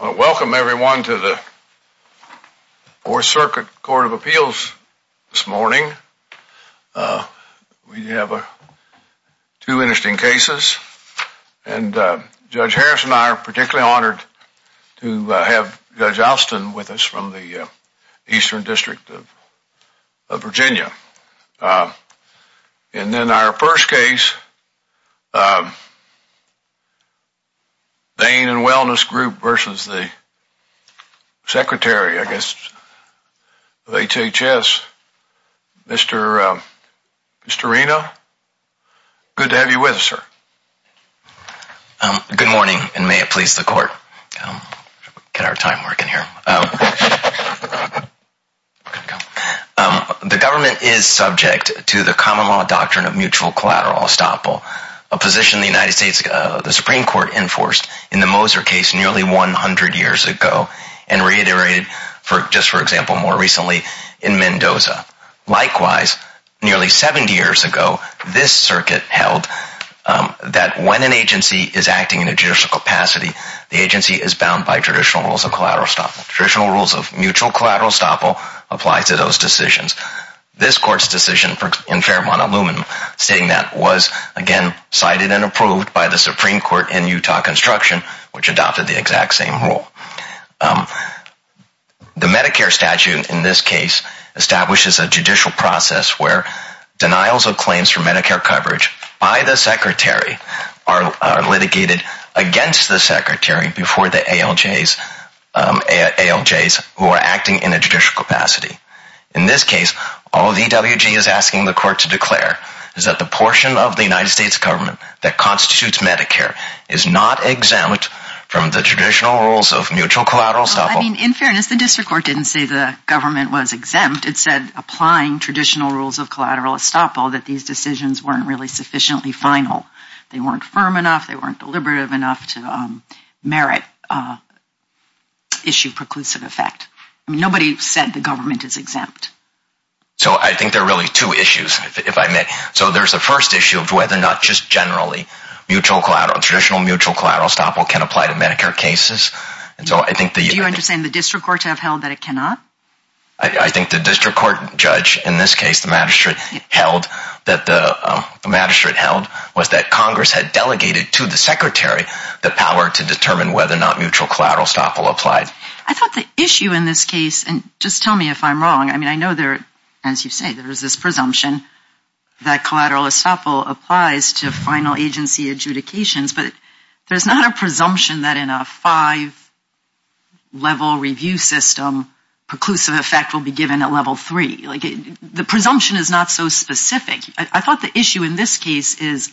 Welcome everyone to the 4th Circuit Court of Appeals this morning. We have two interesting cases, and Judge Harris and I are particularly honored to have Judge Alston with us from the Eastern District of Virginia. And then our first case, Bein & Wellness Group versus the Secretary, I guess, of HHS, Mr. Reno. Good to have you with us, sir. Mr. Reno Good morning, and may it please the Court, get our time working here. The government is subject to the position the United States, the Supreme Court, enforced in the Moser case nearly 100 years ago, and reiterated, just for example, more recently in Mendoza. Likewise, nearly 70 years ago, this circuit held that when an agency is acting in a judicial capacity, the agency is bound by traditional rules of collateral estoppel. Traditional rules of mutual collateral estoppel apply to those decisions. This Court's decision in Fairmont aluminum, stating that was, again, cited and approved by the Supreme Court in Utah construction, which adopted the exact same rule. The Medicare statute, in this case, establishes a judicial process where denials of claims for Medicare coverage by the Secretary are litigated against the Secretary before the ALJs who are acting in a judicial capacity. In this case, all the DWG is asking the Court to declare is that the portion of the United States government that constitutes Medicare is not exempt from the traditional rules of mutual collateral estoppel. They weren't firm enough. They weren't deliberative enough to merit issue preclusive effect. Nobody said the government is exempt. So I think there are really two issues, if I may. So there's the first issue of whether or not just generally, traditional mutual collateral estoppel can apply to Medicare cases. Do you understand the district court to have held that it cannot? I think the district court judge, in this case, the magistrate held, was that Congress had delegated to the Secretary the power to determine whether or not mutual collateral estoppel applied. I thought the issue in this case, and just tell me if I'm wrong, I mean, I know there, as you say, there is this presumption that collateral estoppel applies to final agency adjudications. But there's not a presumption that in a five-level review system, preclusive effect will be given at level three. The presumption is not so specific. I thought the issue in this case is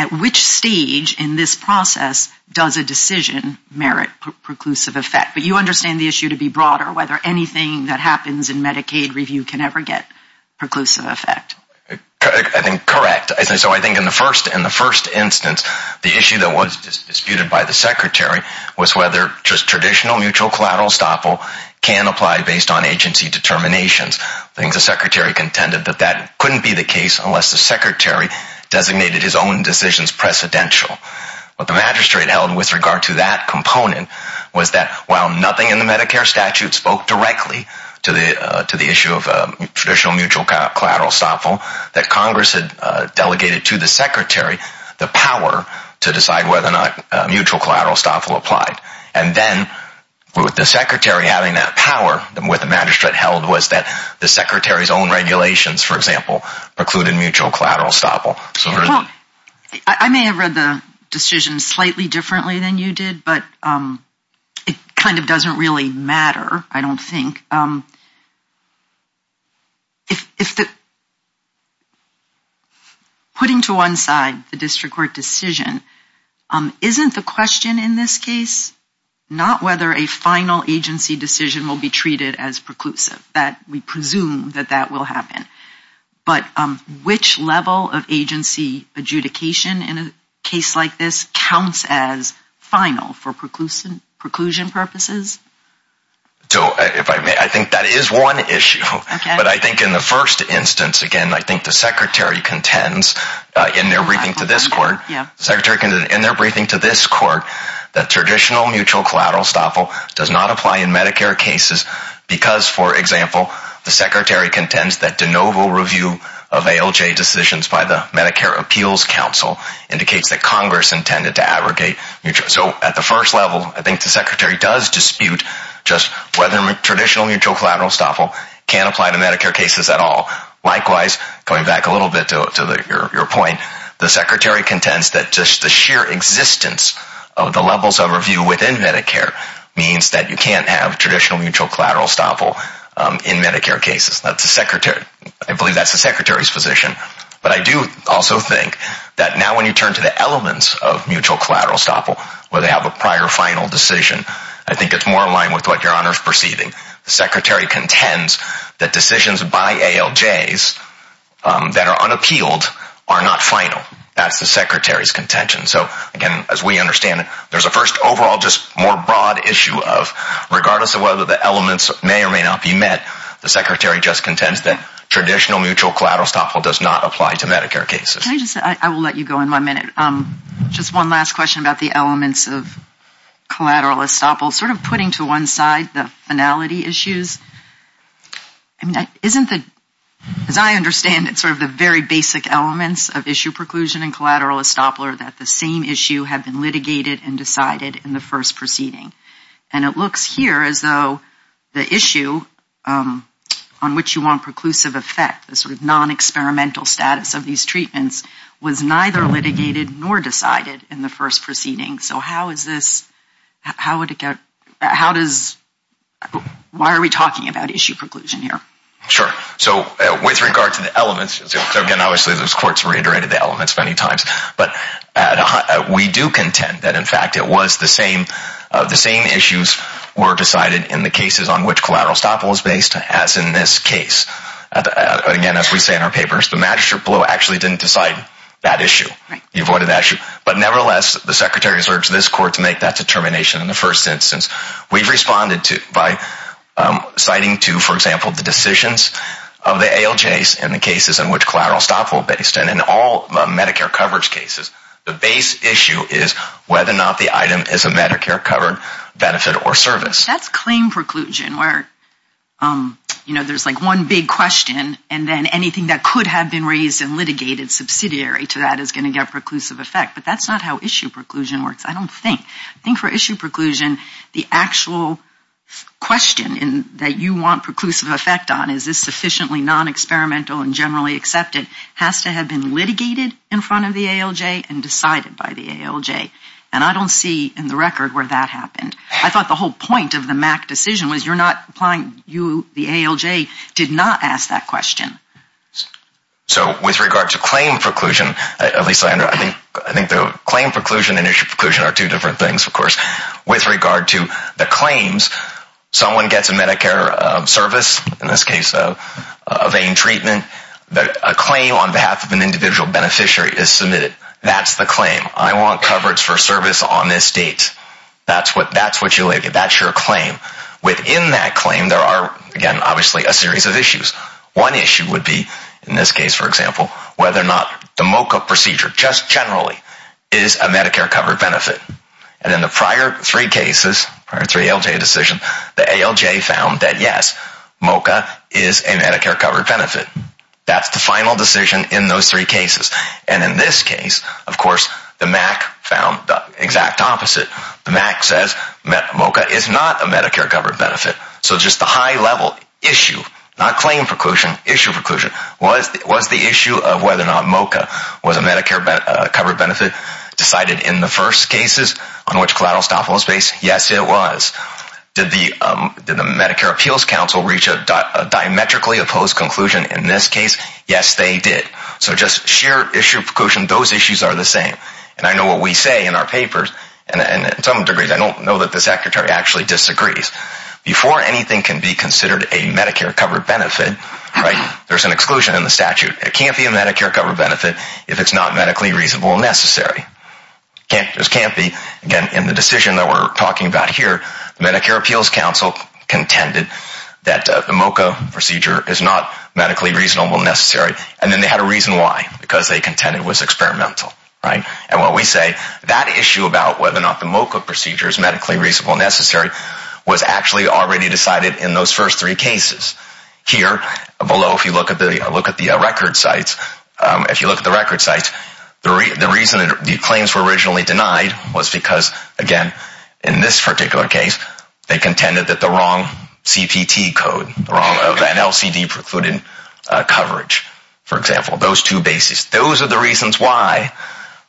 at which stage in this process does a decision merit preclusive effect. But you understand the issue to be broader, whether anything that happens in Medicaid review can ever get preclusive effect. Correct. So I think in the first instance, the issue that was disputed by the Secretary was whether just traditional mutual collateral estoppel can apply based on agency determinations. I think the Secretary contended that that couldn't be the case unless the Secretary designated his own decisions precedential. What the Magistrate held with regard to that component was that while nothing in the Medicare statute spoke directly to the issue of traditional mutual collateral estoppel, that Congress had delegated to the Secretary the power to decide whether or not mutual collateral estoppel applied. And then with the Secretary having that power, what the Magistrate held was that the Secretary's own regulations, for example, precluded mutual collateral estoppel. I may have read the decision slightly differently than you did, but it kind of doesn't really matter, I don't think. Putting to one side the district court decision, isn't the question in this case not whether a final agency decision will be treated as preclusive? We presume that that will happen. But which level of agency adjudication in a case like this counts as final for preclusion purposes? I think that is one issue. But I think in the first instance, again, I think the Secretary contends in their briefing to this court that traditional mutual collateral estoppel does not apply in Medicare cases because, for example, the Secretary contends that de novo review of ALJ decisions by the Medicare Appeals Council indicates that Congress intended to advocate mutual collateral estoppel. So at the first level, I think the Secretary does dispute whether traditional mutual collateral estoppel can apply to Medicare cases at all. Likewise, going back a little bit to your point, the Secretary contends that just the sheer existence of the levels of review within Medicare means that you can't have traditional mutual collateral estoppel in Medicare cases. I believe that's the Secretary's position. But I do also think that now when you turn to the elements of mutual collateral estoppel, where they have a prior final decision, I think it's more in line with what your Honor is perceiving. The Secretary contends that decisions by ALJs that are unappealed are not final. That's the Secretary's contention. So, again, as we understand it, there's a first overall just more broad issue of regardless of whether the elements may or may not be met, the Secretary just contends that traditional mutual collateral estoppel does not apply to Medicare cases. I will let you go in one minute. Just one last question about the elements of collateral estoppel. Sort of putting to one side the finality issues, isn't it, as I understand it, sort of the very basic elements of issue preclusion and collateral estoppel are that the same issue have been litigated and decided in the first proceeding? And it looks here as though the issue on which you want preclusive effect, the sort of non-experimental status of these treatments, was neither litigated nor decided in the first proceeding. So how is this, how does, why are we talking about issue preclusion here? Sure. So, with regard to the elements, again, obviously those courts reiterated the elements many times, but we do contend that, in fact, it was the same, the same issues were decided in the cases on which collateral estoppel was based, as in this case. Again, as we say in our papers, the magistrate below actually didn't decide that issue. He avoided that issue. But nevertheless, the Secretary has urged this court to make that determination in the first instance. We've responded to, by citing to, for example, the decisions of the ALJs in the cases in which collateral estoppel was based, and in all Medicare coverage cases, the base issue is whether or not the item is a Medicare covered benefit or service. That's claim preclusion, where, you know, there's like one big question, and then anything that could have been raised and litigated subsidiary to that is going to get preclusive effect. But that's not how issue preclusion works, I don't think. I think for issue preclusion, the actual question that you want preclusive effect on, is this sufficiently non-experimental and generally accepted, has to have been litigated in front of the ALJ and decided by the ALJ. And I don't see in the record where that happened. The question of the MAC decision was you're not applying, you, the ALJ, did not ask that question. So, with regard to claim preclusion, at least I think the claim preclusion and issue preclusion are two different things, of course. With regard to the claims, someone gets a Medicare service, in this case a vein treatment, a claim on behalf of an individual beneficiary is submitted. That's the claim. I want coverage for service on this date. That's what you lay, that's your claim. Within that claim, there are, again, obviously a series of issues. One issue would be, in this case, for example, whether or not the MOCA procedure, just generally, is a Medicare covered benefit. And in the prior three cases, prior three ALJ decisions, the ALJ found that yes, MOCA is a Medicare covered benefit. That's the final decision in those three cases. And in this case, of course, the MAC found the exact opposite. The MAC says MOCA is not a Medicare covered benefit. So just the high level issue, not claim preclusion, issue preclusion, was the issue of whether or not MOCA was a Medicare covered benefit decided in the first cases on which collateral stop was based? Yes, it was. Did the Medicare Appeals Council reach a diametrically opposed conclusion in this case? Yes, they did. So just sheer issue preclusion, those issues are the same. And I know what we say in our papers, and to some degree, I don't know that the Secretary actually disagrees. Before anything can be considered a Medicare covered benefit, there's an exclusion in the statute. It can't be a Medicare covered benefit if it's not medically reasonable necessary. It just can't be. Again, in the decision that we're talking about here, the Medicare Appeals Council contended that the MOCA procedure is not medically reasonable necessary, and then they had a reason why, because they contended it was experimental. And what we say, that issue about whether or not the MOCA procedure is medically reasonable necessary was actually already decided in those first three cases. Here, below, if you look at the record sites, if you look at the record sites, the reason the claims were originally denied was because, again, in this particular case, they contended that the wrong CPT code, the wrong of that LCD precluded coverage, for example. Those two bases, those are the reasons why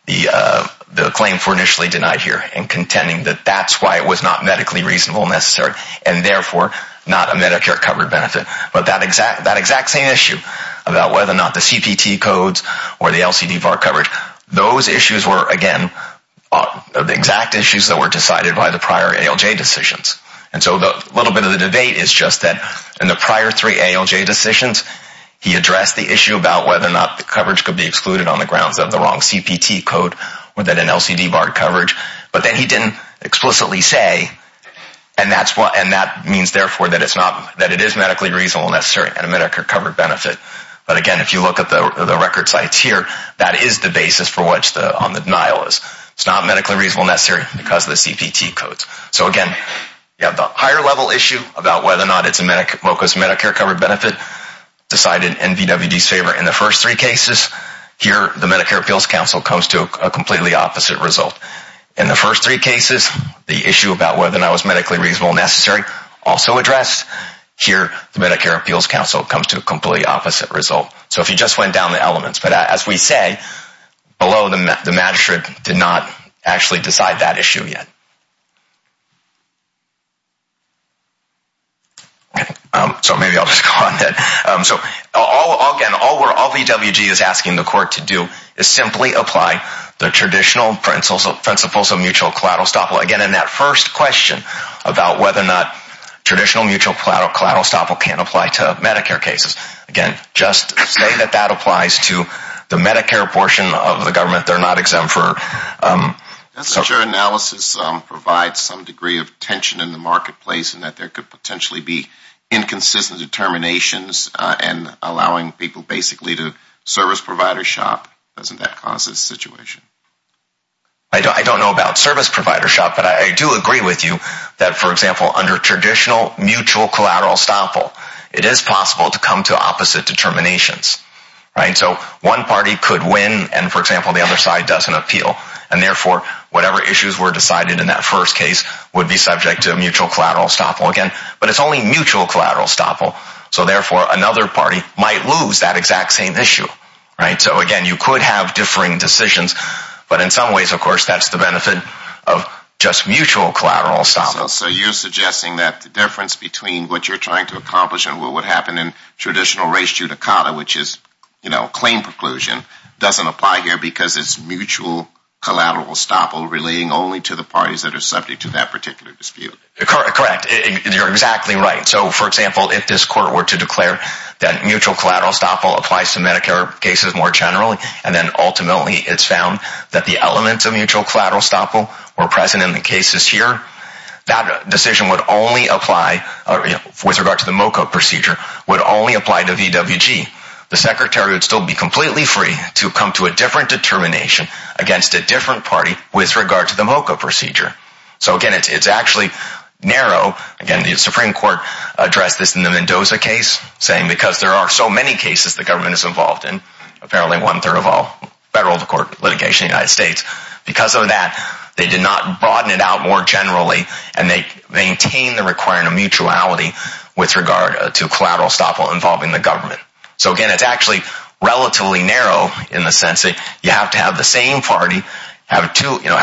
the claims were initially denied here, and contending that that's why it was not medically reasonable necessary, and therefore, not a Medicare covered benefit. But that exact same issue about whether or not the CPT codes or the LCD bar coverage, those issues were, again, exact issues that were decided by the prior ALJ decisions. And so a little bit of the debate is just that in the prior three ALJ decisions, he addressed the issue about whether or not the coverage could be excluded on the grounds of the wrong CPT code or that an LCD bar coverage, but then he didn't explicitly say, and that means, therefore, that it is medically reasonable necessary and a Medicare covered benefit. But, again, if you look at the record sites here, that is the basis for what's on the denial is. It's not medically reasonable necessary because of the CPT codes. So, again, you have the higher level issue about whether or not it's a MOCAS Medicare covered benefit decided in VWD's favor in the first three cases. Here, the Medicare Appeals Council comes to a completely opposite result. In the first three cases, the issue about whether or not it was medically reasonable necessary also addressed. Here, the Medicare Appeals Council comes to a completely opposite result. So if you just went down the elements, but as we say, below the magistrate did not actually decide that issue yet. So maybe I'll just go on that. So, again, all VWD is asking the court to do is simply apply the traditional principles of mutual collateral estoppel. Again, in that first question about whether or not traditional mutual collateral estoppel can apply to Medicare cases, again, just say that that applies to the Medicare portion of the government. They're not exempt for... Doesn't your analysis provide some degree of tension in the marketplace in that there could potentially be inconsistent determinations and allowing people basically to service provider shop? Doesn't that cause this situation? I don't know about service provider shop, but I do agree with you that, for example, under traditional mutual collateral estoppel, it is possible to come to opposite determinations. So one party could win and, for example, the other side doesn't appeal and, therefore, whatever issues were decided in that first case would be subject to mutual collateral estoppel again. But it's only mutual collateral estoppel, so, therefore, another party might lose that exact same issue. So, again, you could have differing decisions, but in some ways, of course, that's the benefit of just mutual collateral estoppel. So you're suggesting that the difference between what you're trying to accomplish and what would happen in traditional res judicata, which is claim preclusion, doesn't apply here because it's mutual collateral estoppel relating only to the parties that are subject to that particular dispute? Correct. You're exactly right. So, for example, if this court were to declare that mutual collateral estoppel applies to Medicare cases more generally and then, ultimately, it's found that the elements of mutual collateral estoppel were present in the cases here, that decision would only apply, with regard to the MOCA procedure, would only apply to VWG. The Secretary would still be completely free to come to a different determination against a different party with regard to the MOCA procedure. So, again, it's actually narrow. Again, the Supreme Court addressed this in the Mendoza case, saying because there are so many cases the government is involved in, apparently one-third of all federal court litigation in the United States, because of that, they did not broaden it out more generally and they maintained the requirement of mutuality with regard to collateral estoppel involving the government. So, again, it's actually relatively narrow in the sense that you have to have the same party have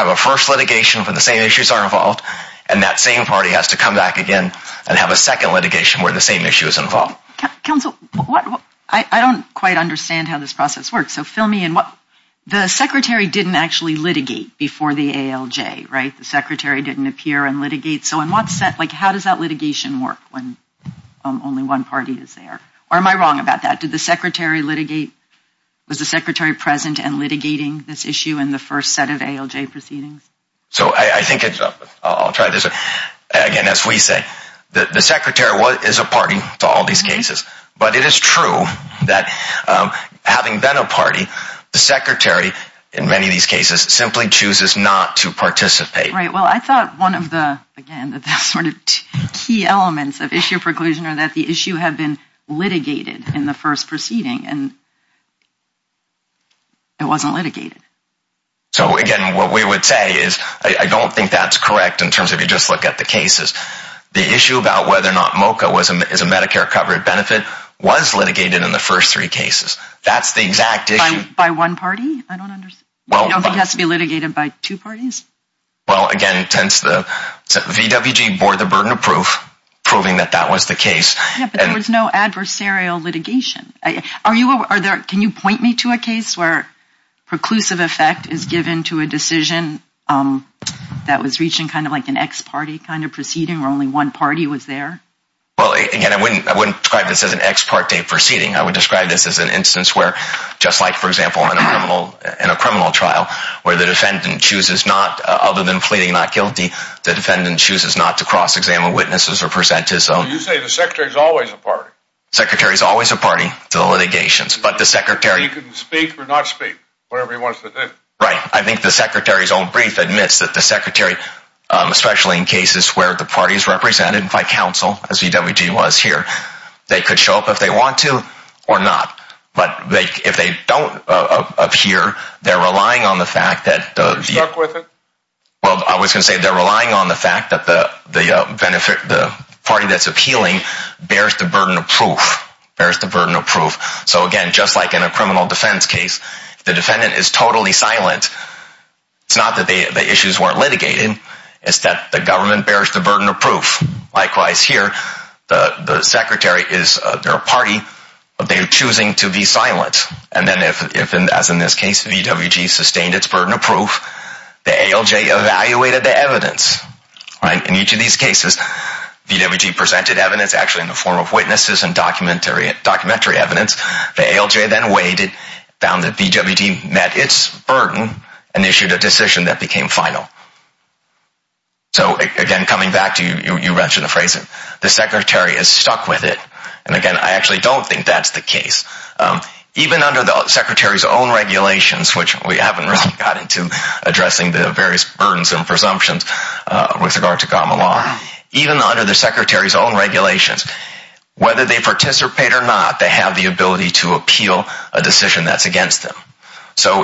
a first litigation where the same issues are involved and that same party has to come back again and have a second litigation where the same issue is involved. Counsel, I don't quite understand how this process works. So, fill me in. The Secretary didn't actually litigate before the ALJ, right? The Secretary didn't appear and litigate. So, how does that litigation work when only one party is there? Or am I wrong about that? Did the Secretary litigate? Was the Secretary present and litigating this issue in the first set of ALJ proceedings? I'll try this again. As we say, the Secretary is a party to all these cases, but it is true that having been a party, the Secretary, in many of these cases, simply chooses not to participate. Right. Well, I thought one of the key elements of issue preclusion is that the issue had been litigated in the first proceeding and it wasn't litigated. So, again, what we would say is I don't think that's correct in terms of you just look at the cases. The issue about whether or not MOCA is a Medicare covered benefit was litigated in the first three cases. That's the exact issue. By one party? I don't think it has to be litigated by two parties. Well, again, since the VWG bore the burden of proof, proving that that was the case. Yeah, but there was no adversarial litigation. Can you point me to a case where preclusive effect is given to a decision that was reaching kind of like an ex parte kind of proceeding where only one party was there? Well, again, I wouldn't describe this as an ex parte proceeding. I would describe this as an instance where, just like, for example, in a criminal trial where the defendant chooses not, other than pleading not guilty, the defendant chooses not to cross-examine witnesses or present his own. Well, you say the secretary's always a party. Secretary's always a party to the litigations, but the secretary... He can speak or not speak, whatever he wants to do. Right. I think the secretary's own brief admits that the secretary, especially in cases where the party is represented by counsel, as VWG was here, they could show up if they want to or not. But if they don't appear, they're relying on the fact that... They're stuck with it? Well, I was going to say they're relying on the fact that the party that's appealing bears the burden of proof. So, again, just like in a criminal defense case, the defendant is totally silent. It's not that the issues weren't litigated. It's that the government bears the burden of proof. Likewise here, the secretary is their party, but they're choosing to be silent. And then if, as in this case, VWG sustained its burden of proof, the ALJ evaluated the evidence. In each of these cases, VWG presented evidence, actually in the form of witnesses and documentary evidence. The ALJ then weighed it, found that VWG met its burden, and issued a decision that became final. So, again, coming back to you mentioning the phrasing, the secretary is stuck with it. And, again, I actually don't think that's the case. Even under the secretary's own regulations, which we haven't really got into addressing the various burdensome presumptions with regard to common law, even under the secretary's own regulations, whether they participate or not, they have the ability to appeal a decision that's against them. So,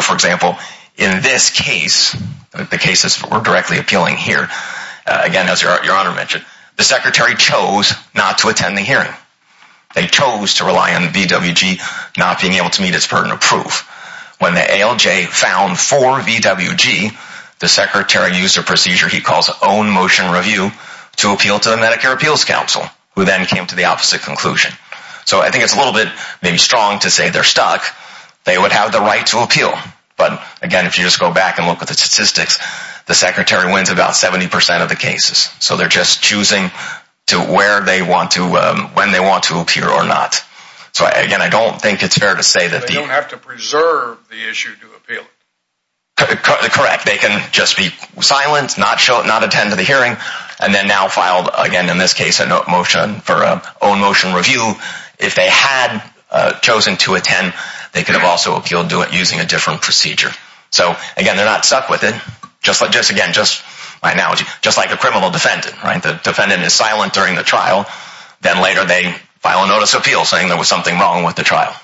for example, in this case, the cases that were directly appealing here, again, as your honor mentioned, the secretary chose not to attend the hearing. They chose to rely on VWG not being able to meet its burden of proof. When the ALJ found for VWG, the secretary used a procedure he calls own motion review to appeal to the Medicare Appeals Council, who then came to the opposite conclusion. So, I think it's a little bit maybe strong to say they're stuck. They would have the right to appeal. But, again, if you just go back and look at the statistics, the secretary wins about 70% of the cases. So, they're just choosing to where they want to, when they want to appear or not. So, again, I don't think it's fair to say that the... They don't have to preserve the issue to appeal it. Correct. They can just be silent, not attend to the hearing, and then now file, again, in this case, a motion for own motion review. If they had chosen to attend, they could have also appealed using a different procedure. So, again, they're not stuck with it. Just, again, my analogy, just like a criminal defendant. The defendant is silent during the trial. Then later they file a notice of appeal saying there was something wrong with the trial.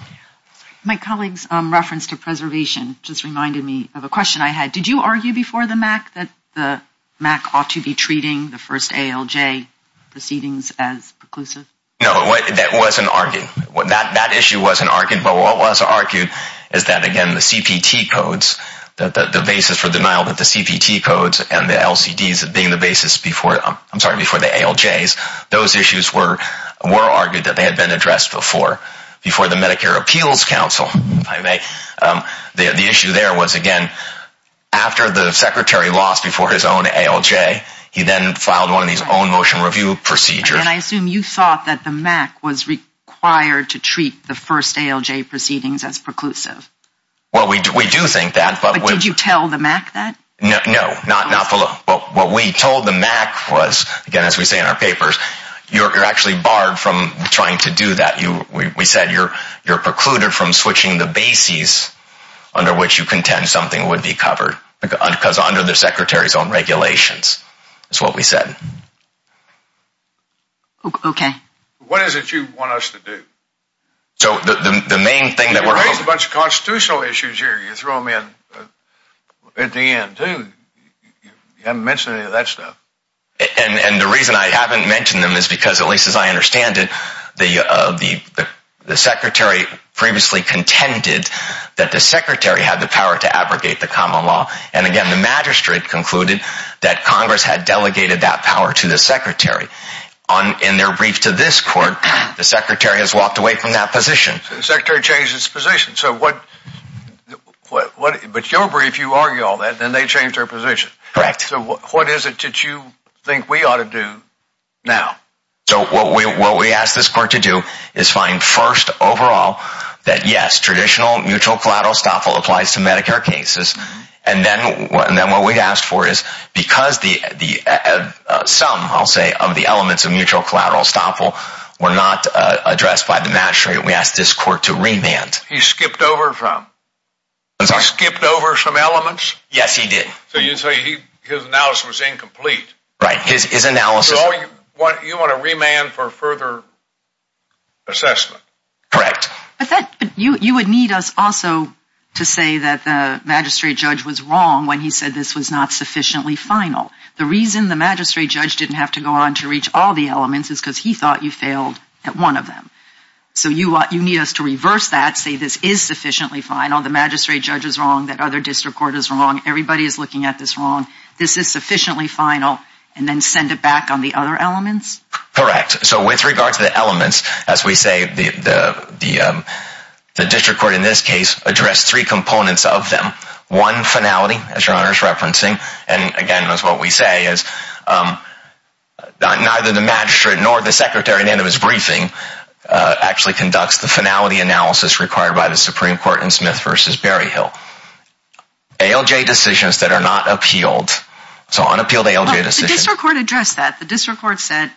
My colleague's reference to preservation just reminded me of a question I had. Did you argue before the MAC that the MAC ought to be treating the first ALJ proceedings as preclusive? No, that wasn't argued. That issue wasn't argued. But what was argued is that, again, the CPT codes, the basis for denial of the CPT codes and the LCDs being the basis before... I'm sorry, before the ALJs. Those issues were argued that they had been addressed before, before the Medicare Appeals Council, if I may. The issue there was, again, after the Secretary lost before his own ALJ, he then filed one of these own motion review procedures. And I assume you thought that the MAC was required to treat the first ALJ proceedings as preclusive. Well, we do think that, but... But did you tell the MAC that? No, not below. What we told the MAC was, again, as we say in our papers, you're actually barred from trying to do that. We said you're precluded from switching the basis under which you contend something would be covered. Because under the Secretary's own regulations, is what we said. Okay. What is it you want us to do? So the main thing that we're... There's a bunch of constitutional issues here you throw them in at the end, too. You haven't mentioned any of that stuff. And the reason I haven't mentioned them is because, at least as I understand it, the Secretary previously contended that the Secretary had the power to abrogate the common law. And again, the magistrate concluded that Congress had delegated that power to the Secretary. In their brief to this court, the Secretary has walked away from that position. So the Secretary changed his position. So what... But your brief, you argue all that, then they changed their position. Correct. So what is it that you think we ought to do now? So what we asked this court to do is find first, overall, that yes, traditional mutual collateral estoppel applies to Medicare cases. And then what we asked for is, because the sum, I'll say, of the elements of mutual collateral estoppel were not addressed by the magistrate, we asked this court to remand. He skipped over some? I'm sorry? He skipped over some elements? Yes, he did. So you say his analysis was incomplete? Right. His analysis... So you want to remand for further assessment? Correct. But you would need us also to say that the magistrate judge was wrong when he said this was not sufficiently final. The reason the magistrate judge didn't have to go on to reach all the elements is because he thought you failed at one of them. So you need us to reverse that, say this is sufficiently final, the magistrate judge is wrong, that other district court is wrong, everybody is looking at this wrong, this is sufficiently final, and then send it back on the other elements? Correct. So with regard to the elements, as we say, the district court in this case addressed three components of them. One, finality, as your Honor is referencing. And, again, that's what we say. Neither the magistrate nor the secretary at the end of his briefing actually conducts the finality analysis required by the Supreme Court in Smith v. Berryhill. ALJ decisions that are not appealed. So unappealed ALJ decisions... The district court addressed that. The district court said...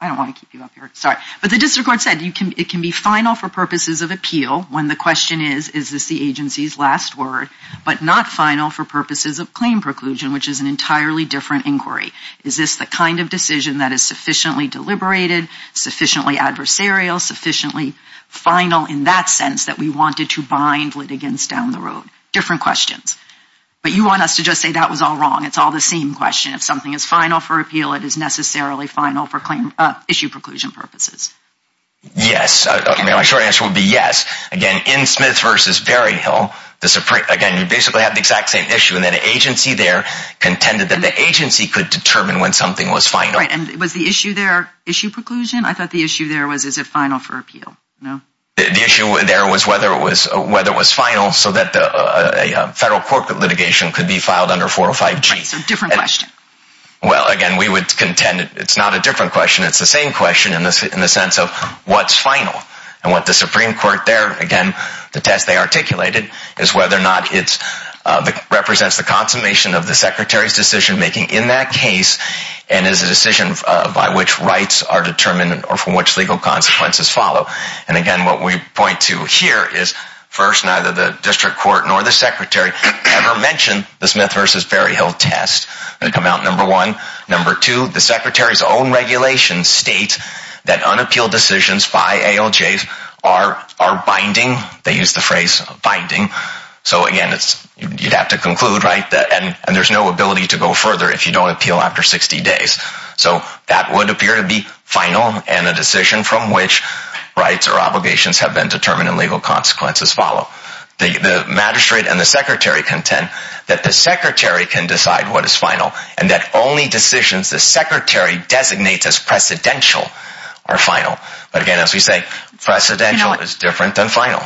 I don't want to keep you up here. Sorry. But the district court said it can be final for purposes of appeal when the question is, is this the agency's last word, but not final for purposes of claim preclusion, which is an entirely different inquiry? Is this the kind of decision that is sufficiently deliberated, sufficiently adversarial, sufficiently final in that sense that we wanted to bind litigants down the road? Different questions. But you want us to just say that was all wrong. It's all the same question. If something is final for appeal, it is necessarily final for claim issue preclusion purposes. Yes. My short answer would be yes. Again, in Smith v. Berryhill, again, you basically have the exact same issue, and that agency there contended that the agency could determine when something was final. Right. And was the issue there issue preclusion? I thought the issue there was, is it final for appeal? No. The issue there was whether it was final so that a federal court litigation could be filed under 405G. Right. So different question. Well, again, we would contend it's not a different question. It's the same question in the sense of what's final. And what the Supreme Court there, again, the test they articulated is whether or not it represents the consummation of the secretary's decision-making in that case and is a decision by which rights are determined or from which legal consequences follow. And, again, what we point to here is, first, neither the district court nor the secretary ever mentioned the Smith v. Berryhill test. They come out, number one. Number two, the secretary's own regulation states that unappealed decisions by ALJs are binding. They use the phrase binding. So, again, you'd have to conclude, right, and there's no ability to go further if you don't appeal after 60 days. So that would appear to be final and a decision from which rights or obligations have been determined and legal consequences follow. The magistrate and the secretary contend that the secretary can decide what is final and that only decisions the secretary designates as precedential are final. But, again, as we say, precedential is different than final.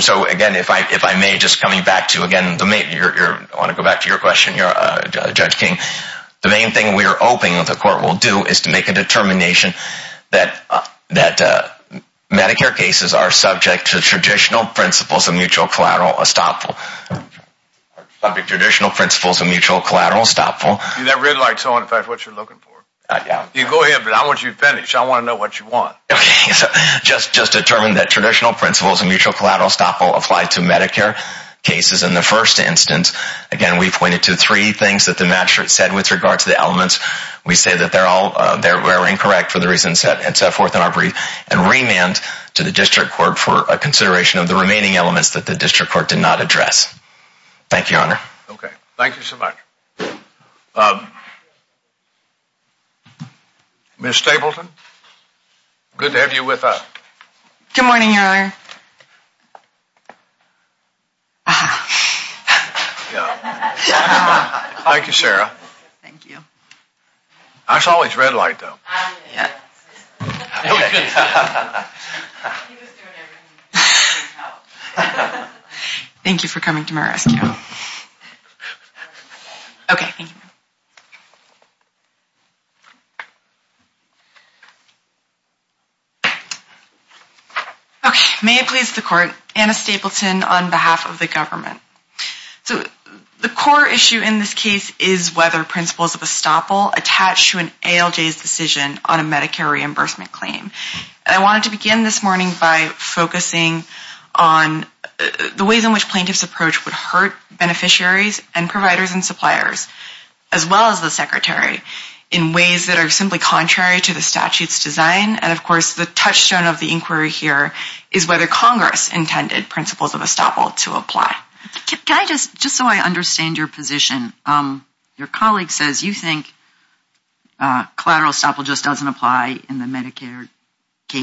So, again, if I may, just coming back to, again, I want to go back to your question, Judge King. The main thing we are hoping the court will do is to make a determination that Medicare cases are subject to traditional principles of mutual collateral estoppel. Subject to traditional principles of mutual collateral estoppel. That red light's on. In fact, that's what you're looking for. Go ahead, but I want you to finish. I want to know what you want. Okay, so just determine that traditional principles of mutual collateral estoppel apply to Medicare cases in the first instance. Again, we pointed to three things that the magistrate said with regard to the elements. We say that they're all incorrect for the reasons set forth in our brief and remand to the district court for a consideration of the remaining elements that the district court did not address. Thank you, Your Honor. Okay, thank you so much. Ms. Stapleton, good to have you with us. Good morning, Your Honor. Thank you, Sarah. Thank you. I saw his red light, though. Yeah. Thank you for coming to my rescue. Okay, thank you. Okay, may it please the court, Anna Stapleton on behalf of the government. So the core issue in this case is whether principles of estoppel attach to an ALJ's decision on a Medicare reimbursement claim. I wanted to begin this morning by focusing on the ways in which plaintiffs' approach would hurt beneficiaries and providers and suppliers, as well as the secretary, in ways that are simply contrary to the statute's design. And, of course, the touchstone of the inquiry here is whether Congress intended principles of estoppel to apply. Just so I understand your position, your colleague says you think collateral estoppel just doesn't apply in the Medicaid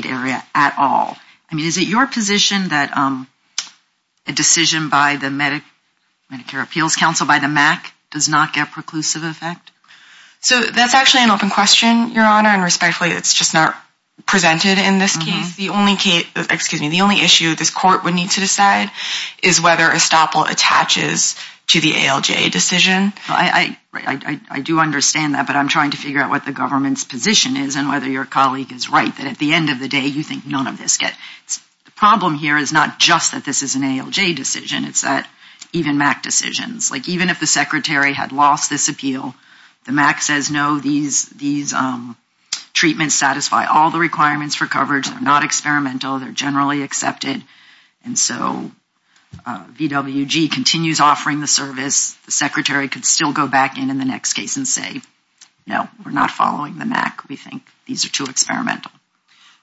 area at all. I mean, is it your position that a decision by the Medicare Appeals Council, by the MAC, does not get preclusive effect? So that's actually an open question, Your Honor, and respectfully, it's just not presented in this case. The only issue this court would need to decide is whether estoppel attaches to the ALJ decision. I do understand that, but I'm trying to figure out what the government's position is and whether your colleague is right, that at the end of the day, you think none of this gets... The problem here is not just that this is an ALJ decision. It's that even MAC decisions, like even if the secretary had lost this appeal, the MAC says, no, these treatments satisfy all the requirements for coverage. They're not experimental. They're generally accepted. And so VWG continues offering the service. The secretary could still go back in in the next case and say, no, we're not following the MAC. We think these are too experimental.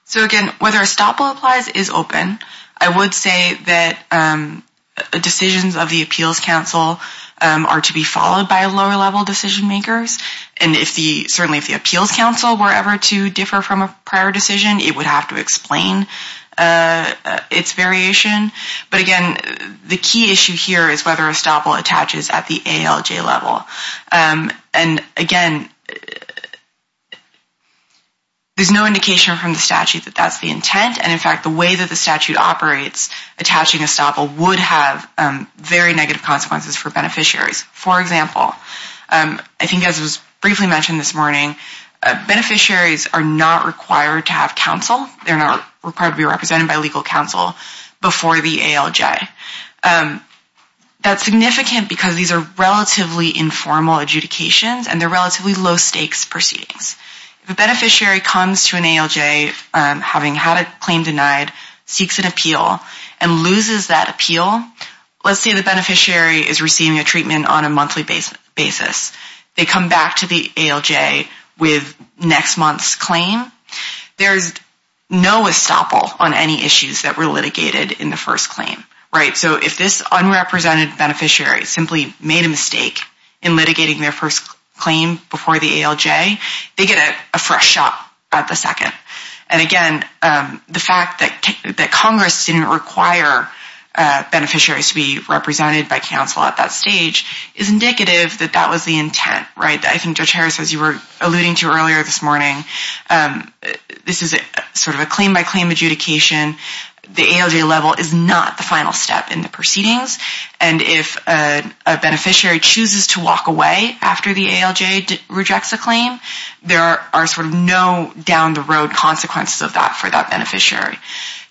So again, whether estoppel applies is open. I would say that decisions of the Appeals Council are to be followed by lower-level decision makers. And certainly if the Appeals Council were ever to differ from a prior decision, it would have to explain its variation. But again, the key issue here is whether estoppel attaches at the ALJ level. And again, there's no indication from the statute that that's the intent, and in fact, the way that the statute operates attaching estoppel would have very negative consequences for beneficiaries. For example, I think as was briefly mentioned this morning, beneficiaries are not required to have counsel. They're not required to be represented by legal counsel before the ALJ. That's significant because these are relatively informal adjudications, and they're relatively low-stakes proceedings. If a beneficiary comes to an ALJ having had a claim denied, seeks an appeal, and loses that appeal, let's say the beneficiary is receiving a treatment on a monthly basis. They come back to the ALJ with next month's claim. There's no estoppel on any issues that were litigated in the first claim. So if this unrepresented beneficiary simply made a mistake in litigating their first claim before the ALJ, they get a fresh shot at the second. And again, the fact that Congress didn't require beneficiaries to be represented by counsel at that stage is indicative that that was the intent. I think Judge Harris, as you were alluding to earlier this morning, this is a claim-by-claim adjudication. The ALJ level is not the final step in the proceedings, and if a beneficiary chooses to walk away after the ALJ rejects a claim, there are no down-the-road consequences of that for that beneficiary.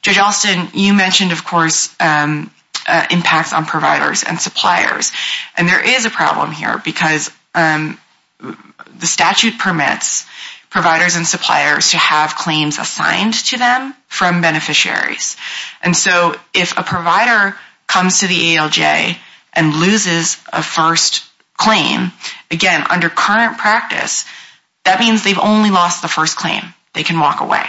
Judge Alston, you mentioned, of course, impacts on providers and suppliers, and there is a problem here because the statute permits providers and suppliers to have claims assigned to them from beneficiaries. And so if a provider comes to the ALJ and loses a first claim, again, under current practice, that means they've only lost the first claim. They can walk away.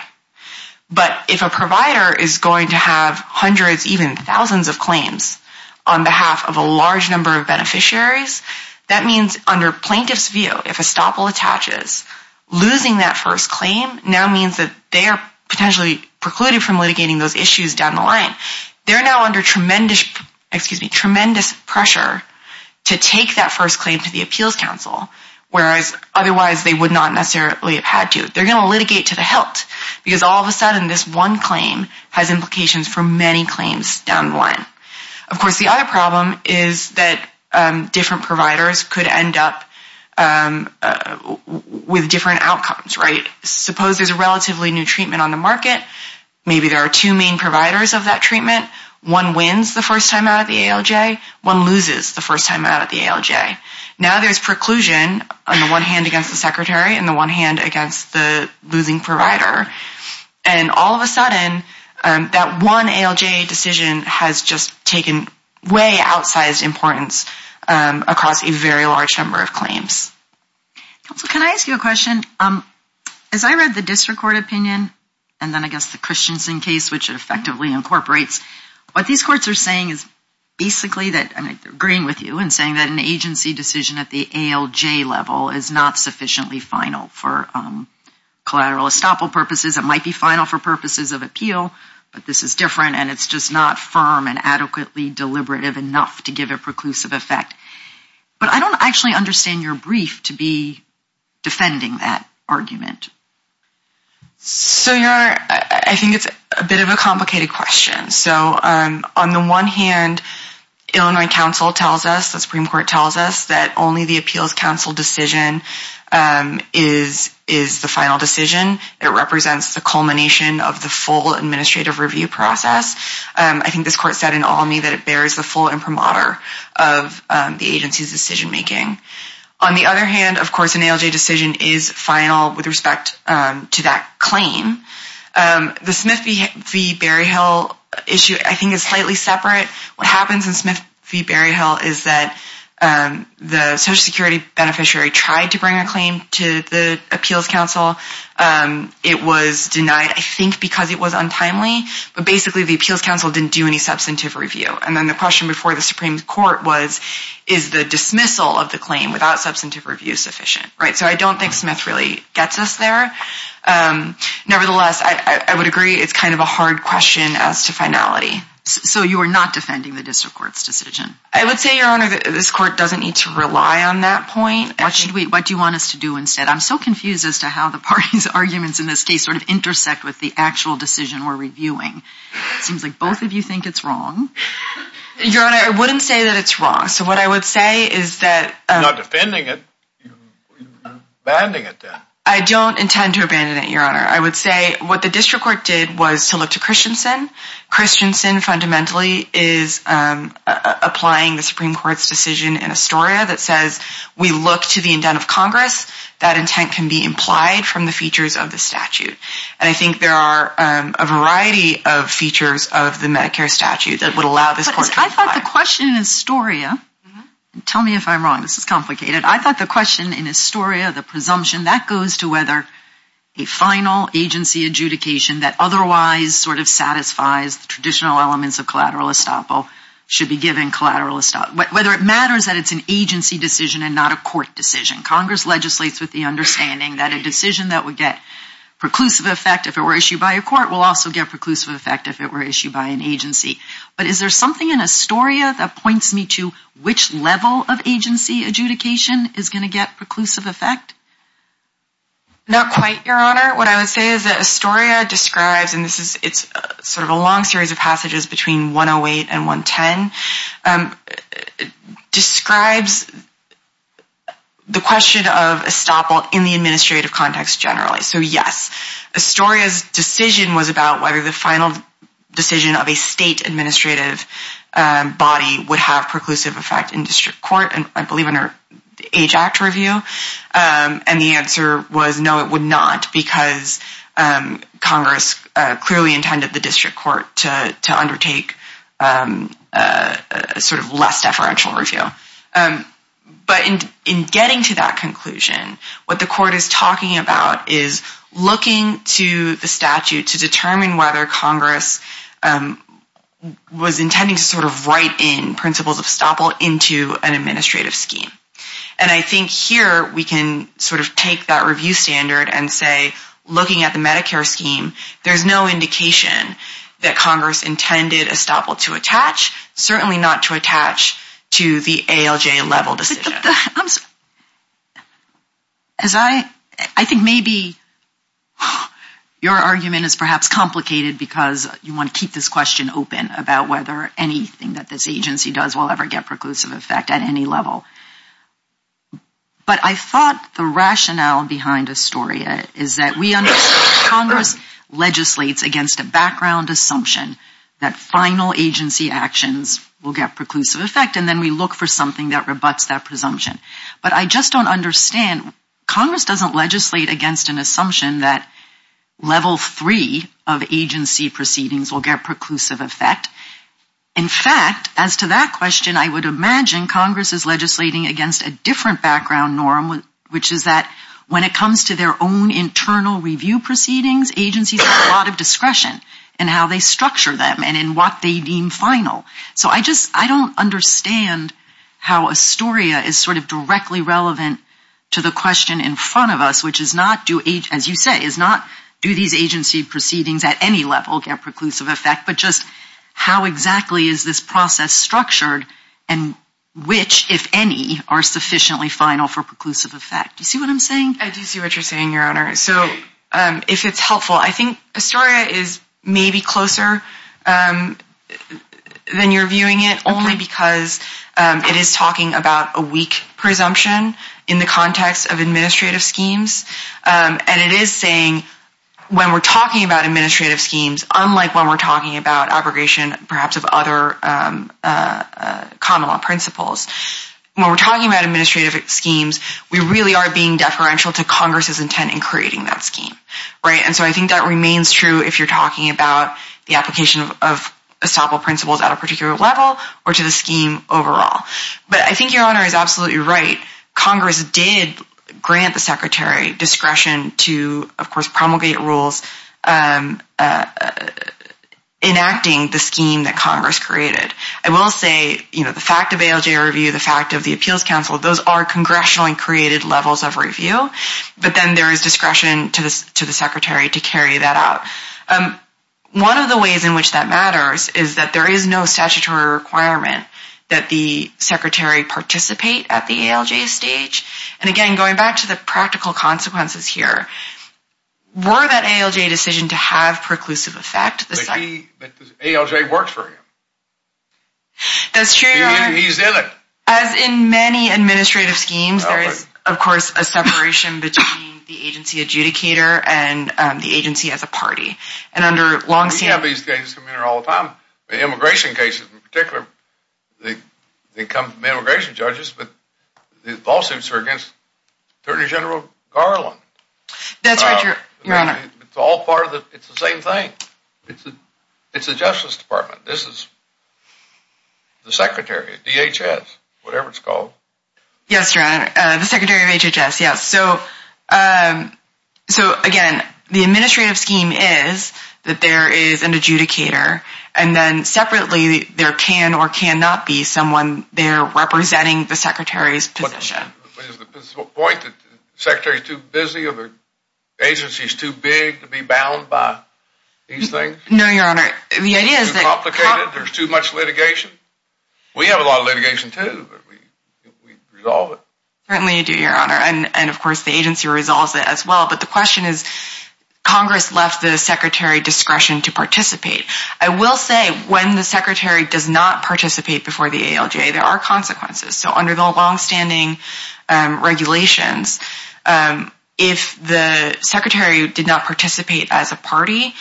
But if a provider is going to have hundreds, even thousands of claims on behalf of a large number of beneficiaries, that means, under plaintiff's view, if a stoppel attaches, losing that first claim now means that they are potentially precluded from litigating those issues down the line. They're now under tremendous pressure to take that first claim to the Appeals Council, whereas otherwise they would not necessarily have had to. They're going to litigate to the hilt because all of a sudden this one claim has implications for many claims down the line. Of course, the other problem is that different providers could end up with different outcomes. Suppose there's a relatively new treatment on the market. Maybe there are two main providers of that treatment. One wins the first time out of the ALJ. One loses the first time out of the ALJ. Now there's preclusion on the one hand against the Secretary and the one hand against the losing provider. And all of a sudden, that one ALJ decision has just taken way outsized importance across a very large number of claims. Can I ask you a question? As I read the District Court opinion and then I guess the Christensen case, which it effectively incorporates, what these courts are saying is basically that they're agreeing with you in saying that an agency decision at the ALJ level is not sufficiently final for collateral estoppel purposes. It might be final for purposes of appeal, but this is different and it's just not firm and adequately deliberative enough to give a preclusive effect. But I don't actually understand your brief to be defending that argument. So, Your Honor, I think it's a bit of a complicated question. So, on the one hand, Illinois Council tells us, the Supreme Court tells us that only the Appeals Council decision is the final decision. It represents the culmination of the full administrative review process. I think this Court said in Almy that it bears the full imprimatur of the agency's decision making. On the other hand, of course, an ALJ decision is final with respect to that claim. The Smith v. Berryhill issue, I think, is slightly separate. What happens in Smith v. Berryhill is that the Social Security beneficiary tried to bring a claim to the Appeals Council. It was denied, I think, because it was untimely. But, basically, the Appeals Council didn't do any substantive review. And then the question before the Supreme Court was, is the dismissal of the claim without substantive review sufficient? So, I don't think Smith really gets us there. Nevertheless, I would agree it's kind of a hard question as to finality. So, you are not defending the District Court's decision? I would say, Your Honor, that this Court doesn't need to rely on that point. What do you want us to do instead? I'm so confused as to how the party's arguments in this case sort of intersect with the actual decision we're reviewing. It seems like both of you think it's wrong. Your Honor, I wouldn't say that it's wrong. So, what I would say is that... You're not defending it. You're abandoning it then. I don't intend to abandon it, Your Honor. I would say what the District Court did was to look to Christensen. Christensen, fundamentally, is applying the Supreme Court's decision in Astoria that says, we look to the indent of Congress. That intent can be implied from the features of the statute. And I think there are a variety of features of the Medicare statute that would allow this Court to apply. I thought the question in Astoria... Tell me if I'm wrong. This is complicated. I thought the question in Astoria, the presumption, that goes to whether a final agency adjudication that otherwise sort of satisfies the traditional elements of collateral estoppel should be given collateral estoppel. Whether it matters that it's an agency decision and not a court decision. Congress legislates with the understanding that a decision that would get preclusive effect if it were issued by a court will also get preclusive effect if it were issued by an agency. But is there something in Astoria that points me to which level of agency adjudication is going to get preclusive effect? Not quite, Your Honor. What I would say is that Astoria describes, and it's sort of a long series of passages between 108 and 110, describes the question of estoppel in the administrative context generally. So yes, Astoria's decision was about whether the final decision of a state administrative body would have preclusive effect in district court, I believe under the Age Act review, and the answer was no, it would not, because Congress clearly would take sort of less deferential review. But in getting to that conclusion, what the court is talking about is looking to the statute to determine whether Congress was intending to sort of write in principles of estoppel into an administrative scheme. And I think here we can sort of take that review standard and say, looking at the Medicare scheme, there's no indication that Congress intended estoppel to attach, certainly not to attach to the ALJ level decision. As I I think maybe your argument is perhaps complicated because you want to keep this question open about whether anything that this agency does will ever get preclusive effect at any level. But I thought the rationale behind Astoria is that we understand Congress legislates against a background assumption that final agency actions will get preclusive effect, and then we look for something that rebuts that presumption. But I just don't understand, Congress doesn't legislate against an assumption that level three of agency proceedings will get preclusive effect. In fact, as to that question, I would imagine Congress is legislating against a different background norm, which is that when it comes to their own internal review proceedings, agencies have a lot of discretion in how they structure them and in what they deem final. So I just, I don't understand how Astoria is sort of directly relevant to the question in front of us, which is not do, as you say, is not do these agency proceedings at any level get preclusive effect, but just how exactly is this process structured, and which if any, are sufficiently final for preclusive effect? Do you see what I'm saying? I do see what you're saying, Your Honor. If it's helpful, I think Astoria is maybe closer than you're viewing it, only because it is talking about a weak presumption in the context of administrative schemes, and it is saying when we're talking about administrative schemes, unlike when we're talking about abrogation perhaps of other common law principles, when we're talking about administrative schemes, we really are being deferential to Congress's intent in creating that scheme. And so I think that remains true if you're talking about the application of estoppel principles at a particular level, or to the scheme overall. But I think Your Honor is absolutely right. Congress did grant the Secretary discretion to, of course, promulgate rules enacting the scheme that Congress created. I will say the fact of ALJ review, the fact of the Appeals Council, those are congressional and created levels of review. But then there is discretion to the Secretary to carry that out. One of the ways in which that matters is that there is no statutory requirement that the Secretary participate at the ALJ stage. And again, going back to the practical consequences here, were that ALJ decision to have preclusive effect? But ALJ works for him. That's true, Your Honor. He's in it. As in many administrative schemes, there is of course a separation between the agency adjudicator and the agency as a party. We have these cases come in here all the time. Immigration cases in particular. They come from immigration judges, but the lawsuits are against Attorney General Garland. That's right, Your Honor. It's the same thing. It's the Justice Department. This is the Secretary of DHS, whatever it's called. The Secretary of DHS, yes. So again, the administrative scheme is that there is an adjudicator and then separately there can or cannot be someone there representing the Secretary's position. Is the point that the Secretary is too busy or the agency is too big to be bound by these things? No, Your Honor. Too complicated? There's too much litigation? We have a lot of litigation too. We resolve it. Certainly we do, Your Honor, and of course the agency resolves it as well, but the question is Congress left the Secretary discretion to participate. I will say, when the Secretary does not participate before the ALJ, there are consequences. So under the long-standing regulations, if the Secretary did not participate as a party,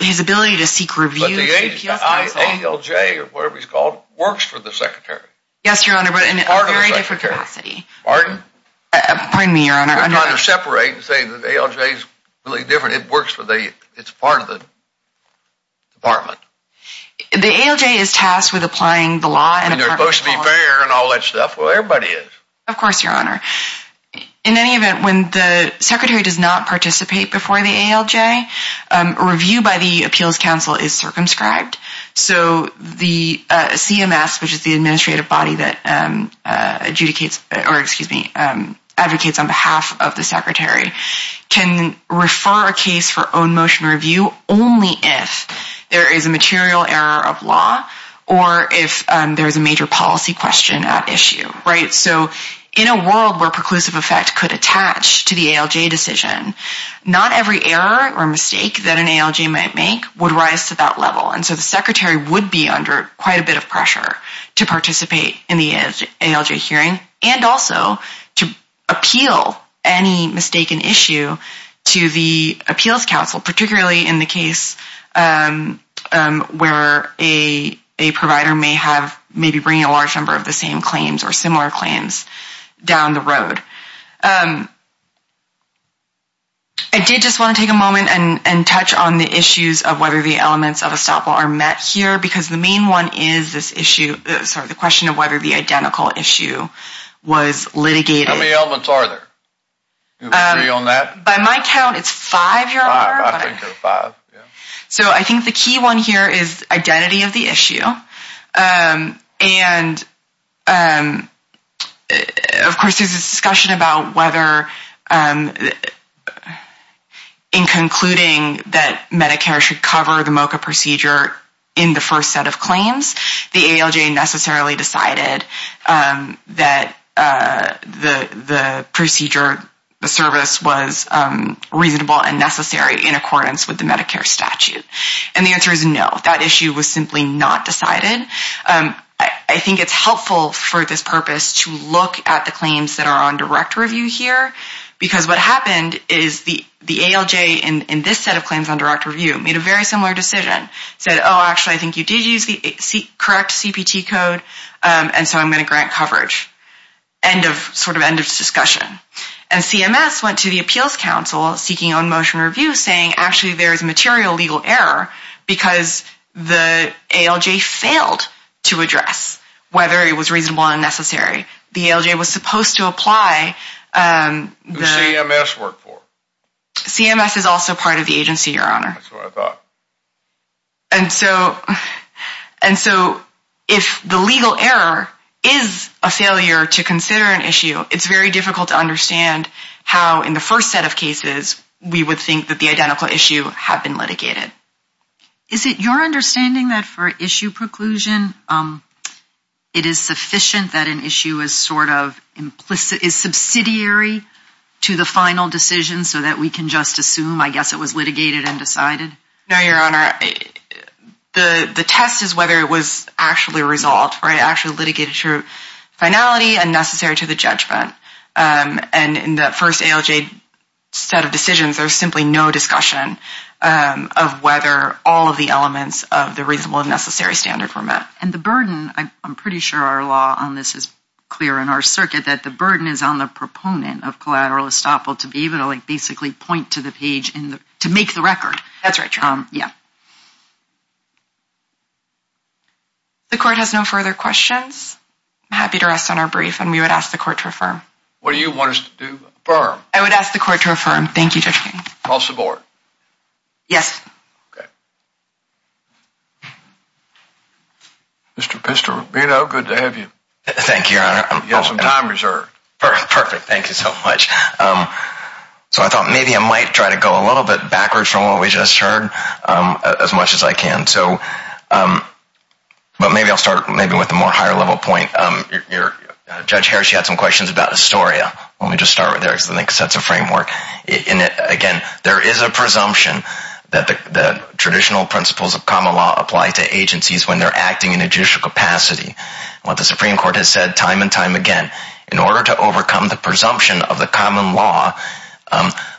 his ability to seek reviews But the ALJ, or whatever it's called, works for the Secretary. Yes, Your Honor, but in a very different capacity. Pardon? Pardon me, Your Honor. We're trying to separate and say that the ALJ is really different. It works for the, it's part of the Department. The ALJ is tasked with applying the law. And they're supposed to be fair and all that stuff. Well, everybody is. Of course, Your Honor. In any event, when the Secretary does not participate before the ALJ, review by the Appeals Council is circumscribed. So the CMS, which is the administrative body that adjudicates or, excuse me, advocates on behalf of the Secretary can refer a case for own motion review only if there is a material error of law or if there is a major policy question at issue. Right? So in a world where preclusive effect could attach to the ALJ decision, not every error or mistake that an ALJ might make would rise to that level. And so the Secretary would be under quite a bit of pressure to participate in the ALJ hearing and also to appeal any mistaken issue to the Appeals Council, particularly in the case where a provider may have maybe bringing a large number of the same claims or similar claims down the road. I did just want to take a moment and touch on the issues of whether the elements of a stop law are met here because the main one is this issue, sorry, the question of whether the identical issue was litigated. How many elements are there? Do you agree on that? By my count, it's five. I think there are five. So I think the key one here is identity of the issue and of course there's a discussion about whether in concluding that Medicare should cover the MOCA procedure in the first set of claims, the ALJ necessarily decided that the procedure, the service was reasonable and necessary in accordance with the Medicare statute. And the answer is no. That issue was simply not decided. I think it's helpful for this purpose to look at the claims that are on direct review here because what happened is the ALJ in this set of claims on direct review made a very similar decision. Said, oh actually I think you did use the correct CPT code and so I'm going to grant coverage. Sort of end of discussion. And CMS went to the appeals council seeking on motion review saying actually there is a material legal error because the ALJ failed to address whether it was reasonable or necessary. The ALJ was supposed to apply Who CMS worked for? CMS is also part of the agency, Your Honor. That's what I thought. And so if the legal error is a failure to consider an issue, it's very difficult to understand how in the first set of cases we would think that the Is it your understanding that for issue preclusion it is sufficient that an issue is sort of subsidiary to the final decision so that we can just assume I guess it was litigated and decided? No, Your Honor. The test is whether it was actually resolved, right? Actually litigated to finality and necessary to the judgment. And in that first ALJ set of decisions, there's simply no discussion of whether all of the elements of the reasonable and necessary standard were met. I'm pretty sure our law on this is clear in our circuit that the burden is on the proponent of collateral estoppel to be able to basically point to the page to make the record. That's right, Your Honor. The Court has no further questions. I'm happy to rest on our brief and we would ask the Court to affirm. What do you want us to do? Affirm. I would ask the Court to affirm. Thank you, Judge. Call support. Yes. Mr. Pistorubino, good to have you. Thank you, Your Honor. You have some time reserved. Perfect, thank you so much. I thought maybe I might try to go a little bit backwards from what we just heard as much as I can. Maybe I'll start with a more higher level point. Judge Harris, you had some questions about the sets of framework. Again, there is a presumption that the traditional principles of common law apply to agencies when they're acting in a judicial capacity. What the Supreme Court has said time and time again in order to overcome the presumption of the common law,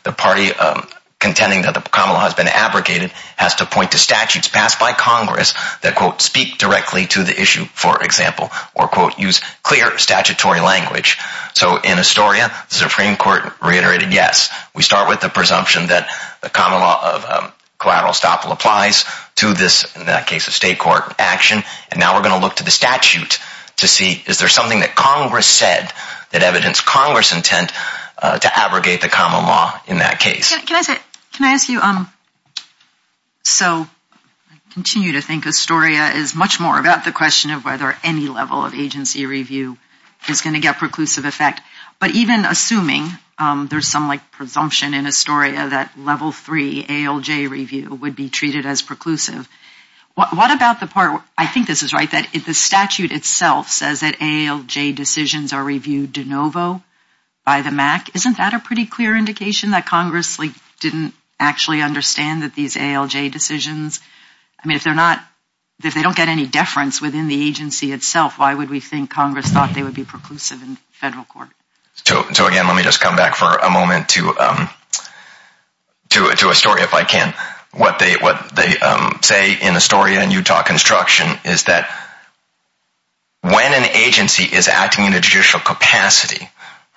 the party contending that the common law has been abrogated has to point to statutes passed by Congress that quote, speak directly to the issue for example, or quote, use clear statutory language. So in Astoria, the Supreme Court reiterated, yes, we start with the presumption that the common law of collateral estoppel applies to this, in that case, a state court action and now we're going to look to the statute to see is there something that Congress said that evidenced Congress' intent to abrogate the common law in that case. Can I ask you, so I continue to think Astoria is much more about the question of whether any level of agency review is going to get preclusive effect, but even assuming there's some presumption in Astoria that level three ALJ review would be treated as preclusive, what about the part, I think this is right, that the statute itself says that ALJ decisions are reviewed de novo by the MAC, isn't that a pretty clear indication that Congress didn't actually understand that these ALJ decisions, I mean, if they're not, if they don't get any deference within the agency itself, why would we think Congress thought they would be preclusive in federal court? So again, let me just come back for a moment to Astoria, if I can. What they say in Astoria and Utah construction is that when an agency is acting in a judicial capacity,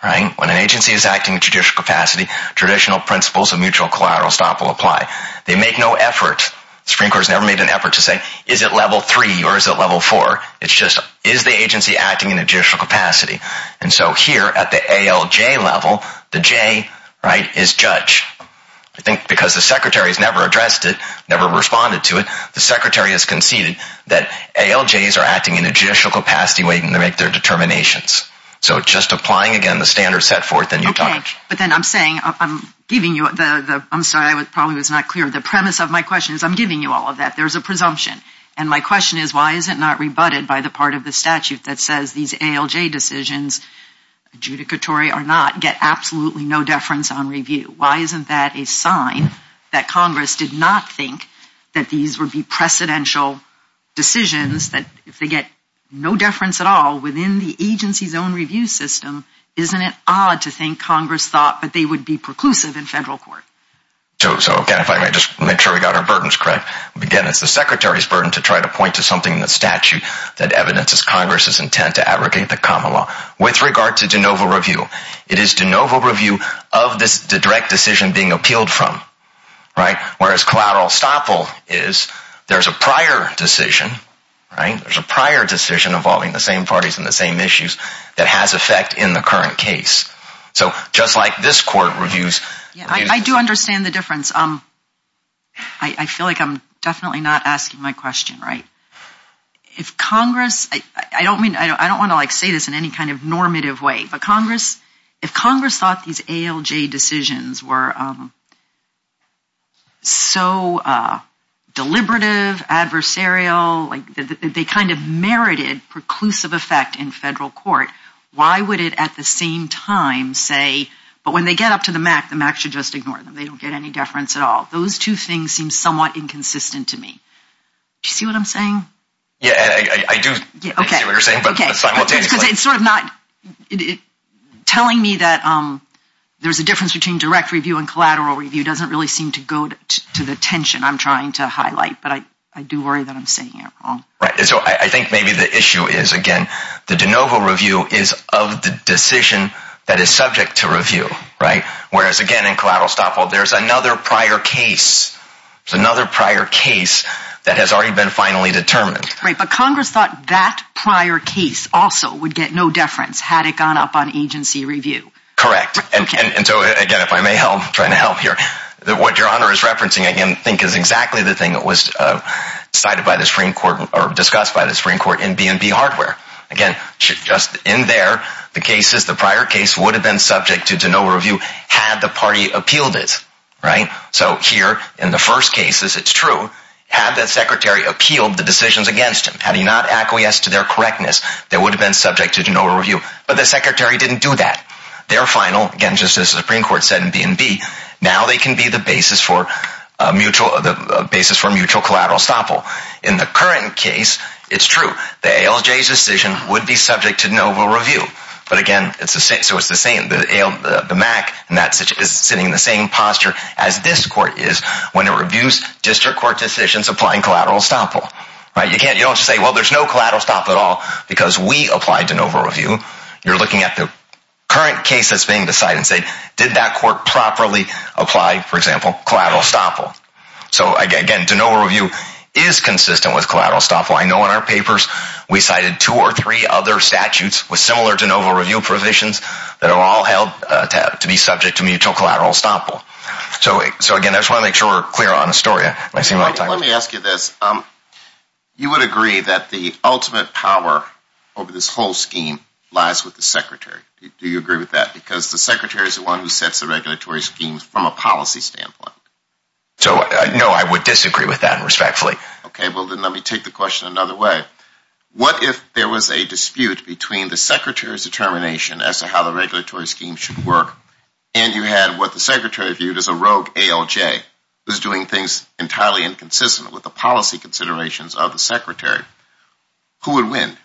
when an agency is acting in a judicial capacity, traditional principles of mutual collateral estoppel apply. They make no effort, the Supreme Court has never made an effort to say, is it level three or is it level four? It's just, is the agency acting in a judicial capacity? And so here at the ALJ level, the J, right, is judge. I think because the Secretary has never addressed it, never responded to it, the Secretary has conceded that ALJs are acting in a judicial capacity waiting to make their determinations. So just applying again the standards set forth in Utah. Okay, but then I'm saying, I'm giving you the, I'm sorry, I probably was not clear, the premise of my question is I'm giving you all of that. There's a presumption. And my question is, why is it not rebutted by the part of the statute that says these ALJ decisions, adjudicatory or not, get absolutely no deference on review? Why isn't that a sign that Congress did not think that these would be precedential decisions that if they get no deference at all within the agency's own review system, isn't it odd to think Congress thought that they would be preclusive in federal court? So, again, if I may just make sure we got our burdens correct. Again, it's the Secretary's burden to try to point to something in the statute that evidences Congress's intent to abrogate the common law. With regard to de novo review, it is de novo review of this direct decision being appealed from. Right? Whereas collateral stoppel is, there's a prior decision, right? There's a prior decision involving the same parties and the same issues that has effect in the current case. So, just like this court reviews. I do understand the difference. I feel like I'm definitely not asking my question, right? If Congress, I don't mean, I don't want to say this in any kind of normative way, but Congress, if Congress thought these ALJ decisions were so deliberative, adversarial, they kind of merited preclusive effect in federal court, why would it at the same time say, but when they get up to the MAC, the MAC should just ignore them. They don't get any deference at all. Those two things seem somewhat inconsistent to me. Do you see what I'm saying? Yeah, I do. Because it's sort of not telling me that there's a difference between direct review and collateral review doesn't really seem to go to the tension I'm trying to highlight, but I do worry that I'm saying it wrong. Right, so I think maybe the issue is, again, the de novo decision that is subject to review, right? Whereas, again, in collateral stop, well, there's another prior case. There's another prior case that has already been finally determined. Right, but Congress thought that prior case also would get no deference had it gone up on agency review. Correct, and so, again, if I may help, I'm trying to help here, what Your Honor is referencing, again, I think is exactly the thing that was cited by the Supreme Court, or discussed by the Supreme Court in B&B Hardware. Again, just in there, the cases, the prior case would have been subject to de novo review had the party appealed it, right? So, here, in the first cases, it's true, had the Secretary appealed the decisions against him, had he not acquiesced to their correctness, they would have been subject to de novo review. But the Secretary didn't do that. Their final, again, just as the Supreme Court said in B&B, now they can be the basis for mutual, the basis for mutual collateral estoppel. In the current case, it's true. The ALJ's decision would be subject to de novo review. But, again, so it's the same, the MAC is sitting in the same posture as this Court is when it reviews district court decisions applying collateral estoppel. You don't just say, well, there's no collateral estoppel at all because we applied de novo review. You're looking at the current case that's being decided and say, did that court properly apply, for example, collateral estoppel? So, again, de novo review is consistent with collateral estoppel. I know in our papers we cited two or three other statutes with similar de novo review provisions that are all held to be subject to mutual collateral estoppel. So, again, I just want to make sure we're clear on the story. Let me ask you this. You would agree that the ultimate power over this whole scheme lies with the Secretary. Do you agree with that? Because the Secretary is the one who sets the regulatory schemes from a policy standpoint. So, no, I would disagree with that, respectfully. Let me take the question another way. What if there was a dispute between the Secretary's determination as to how the regulatory scheme should work and you had what the Secretary viewed as a rogue ALJ who's doing things entirely inconsistent with the policy considerations of the Secretary? Who would win?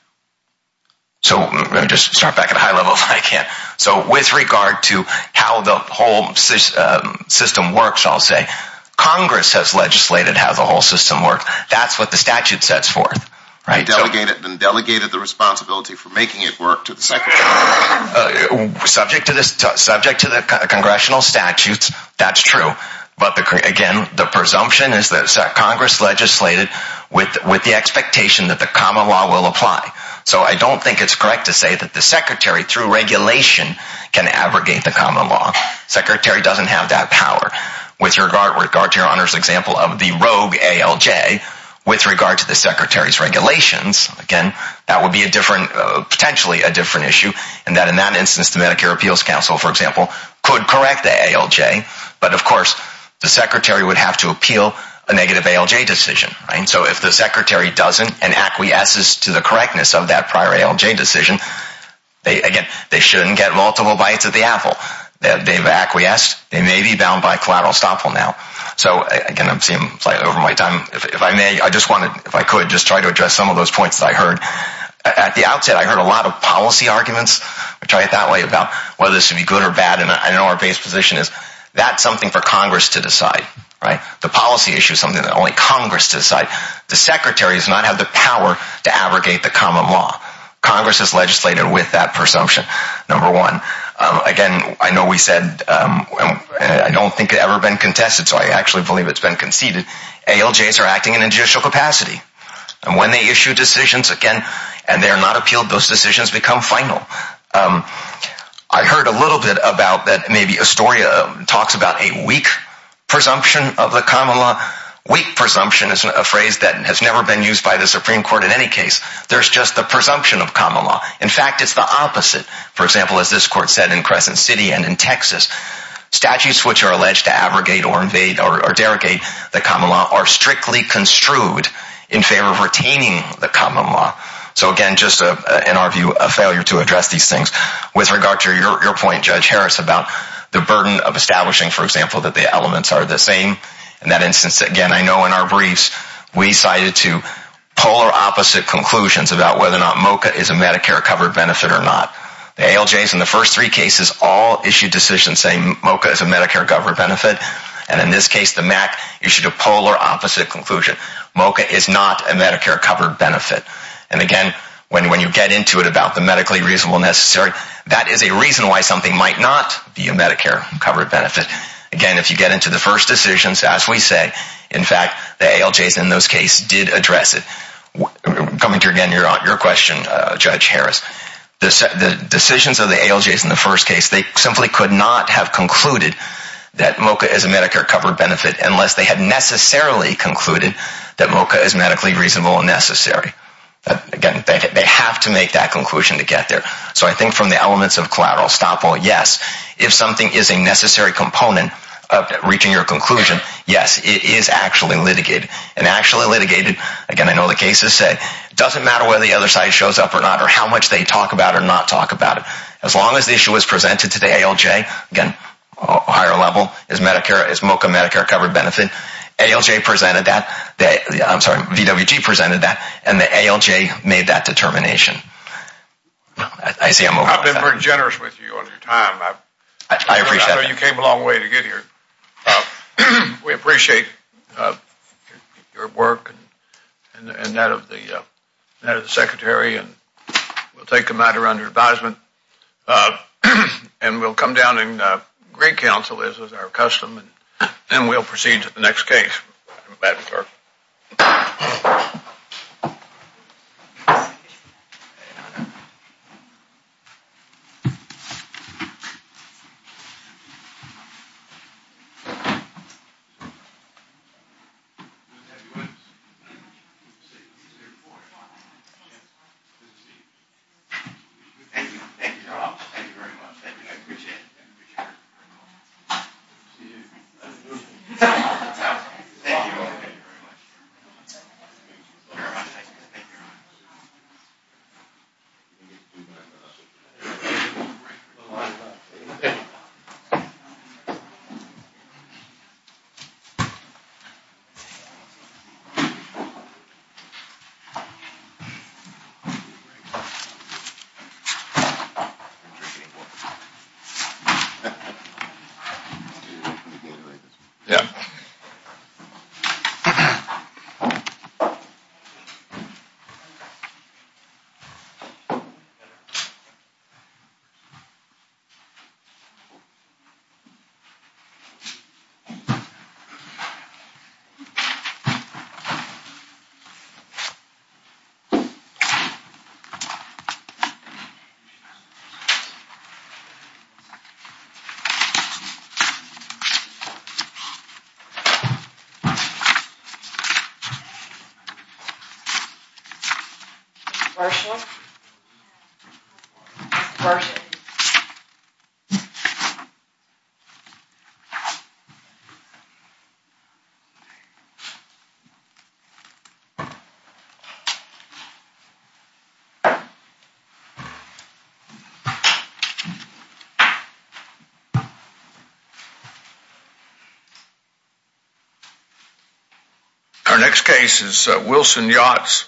So, let me just start back at a high level if I can. So, with regard to how the whole system works, I'll say Congress has legislated how the whole system works. That's what the statute sets forth. And delegated the responsibility for making it work to the Secretary. Subject to the Congressional statutes, that's true. But, again, the presumption is that Congress legislated with the expectation that the common law will apply. So, I don't think it's correct to say that the Secretary, through regulation, can abrogate the common law. The Secretary doesn't have that power. With regard to your example of the rogue ALJ, with regard to the Secretary's regulations, again, that would be potentially a different issue and that, in that instance, the Medicare Appeals Council, for example, could correct the ALJ. But, of course, the Secretary would have to appeal a negative ALJ decision. So, if the Secretary doesn't and acquiesces to the correctness of that prior ALJ decision, again, they shouldn't get multiple bites at the apple. They've acquiesced. They may be bound by collateral estoppel now. So, again, I'm flying over my time. If I may, I just wanted, if I could, just try to address some of those points that I heard. At the outset, I heard a lot of policy arguments, I try it that way, about whether this should be good or bad, and I know our base position is that's something for Congress to decide. The policy issue is something that only Congress can decide. The Secretary does not have the power to abrogate the common law. Congress has legislated with that presumption. Number one, again, I know we said, I don't think it's ever been contested, so I actually believe it's been conceded. ALJs are acting in judicial capacity. And when they issue decisions, again, and they are not appealed, those decisions become final. I heard a little bit about that, maybe Astoria talks about a weak presumption of the common law. Weak presumption is a phrase that has never been used by the Supreme Court in any case. There's just the presumption of common law. In fact, it's the opposite. For example, as this court said in Crescent City and in Texas, statutes which are alleged to abrogate or invade or derogate the common law are strictly construed in favor of retaining the common law. So again, just in our view, a failure to address these things. With regard to your point, Judge Harris, about the burden of establishing, for example, that the elements are the same. In that instance, again, I know in our briefs, we cited two polar opposite conclusions about whether or not MOCA is a Medicare covered benefit or not. The ALJs in the first three cases all issued decisions saying MOCA is a Medicare covered benefit, and in this case, the MAC issued a polar opposite conclusion. MOCA is not a Medicare covered benefit. And again, when you get into it about the medically reasonable necessary, that is a reason why something might not be a Medicare covered benefit. Again, if you get into the first decisions, as we say, in fact, the ALJs in those cases did address it. Coming to, again, your question, Judge Harris, the decisions of the ALJs in the first case, they simply could not have concluded that MOCA is a Medicare covered benefit unless they had necessarily concluded that MOCA is medically reasonable and necessary. Again, they have to make that conclusion to get there. So I think from the elements of collateral stoppable, yes, if something is a necessary component of reaching your conclusion, yes, it is actually litigated. And actually litigated, again, I know the cases say, it doesn't matter whether the other side shows up or not, or how much they talk about it or not talk about it. As long as the issue is presented to the ALJ, again, a higher level, is MOCA a Medicare covered benefit? ALJ presented that, I'm sorry, VWG presented that, and the ALJ made that determination. I've been very generous with you on your time. I appreciate it. I know you came a long way to get here. We appreciate your work and that of the Secretary, and we'll take a matter under advisement, and we'll come down in great counsel, as is our custom, and we'll proceed to the next case. Thank you. Thank you. Marsha? Marsha? Thank you. Our next case is Wilson Yachts.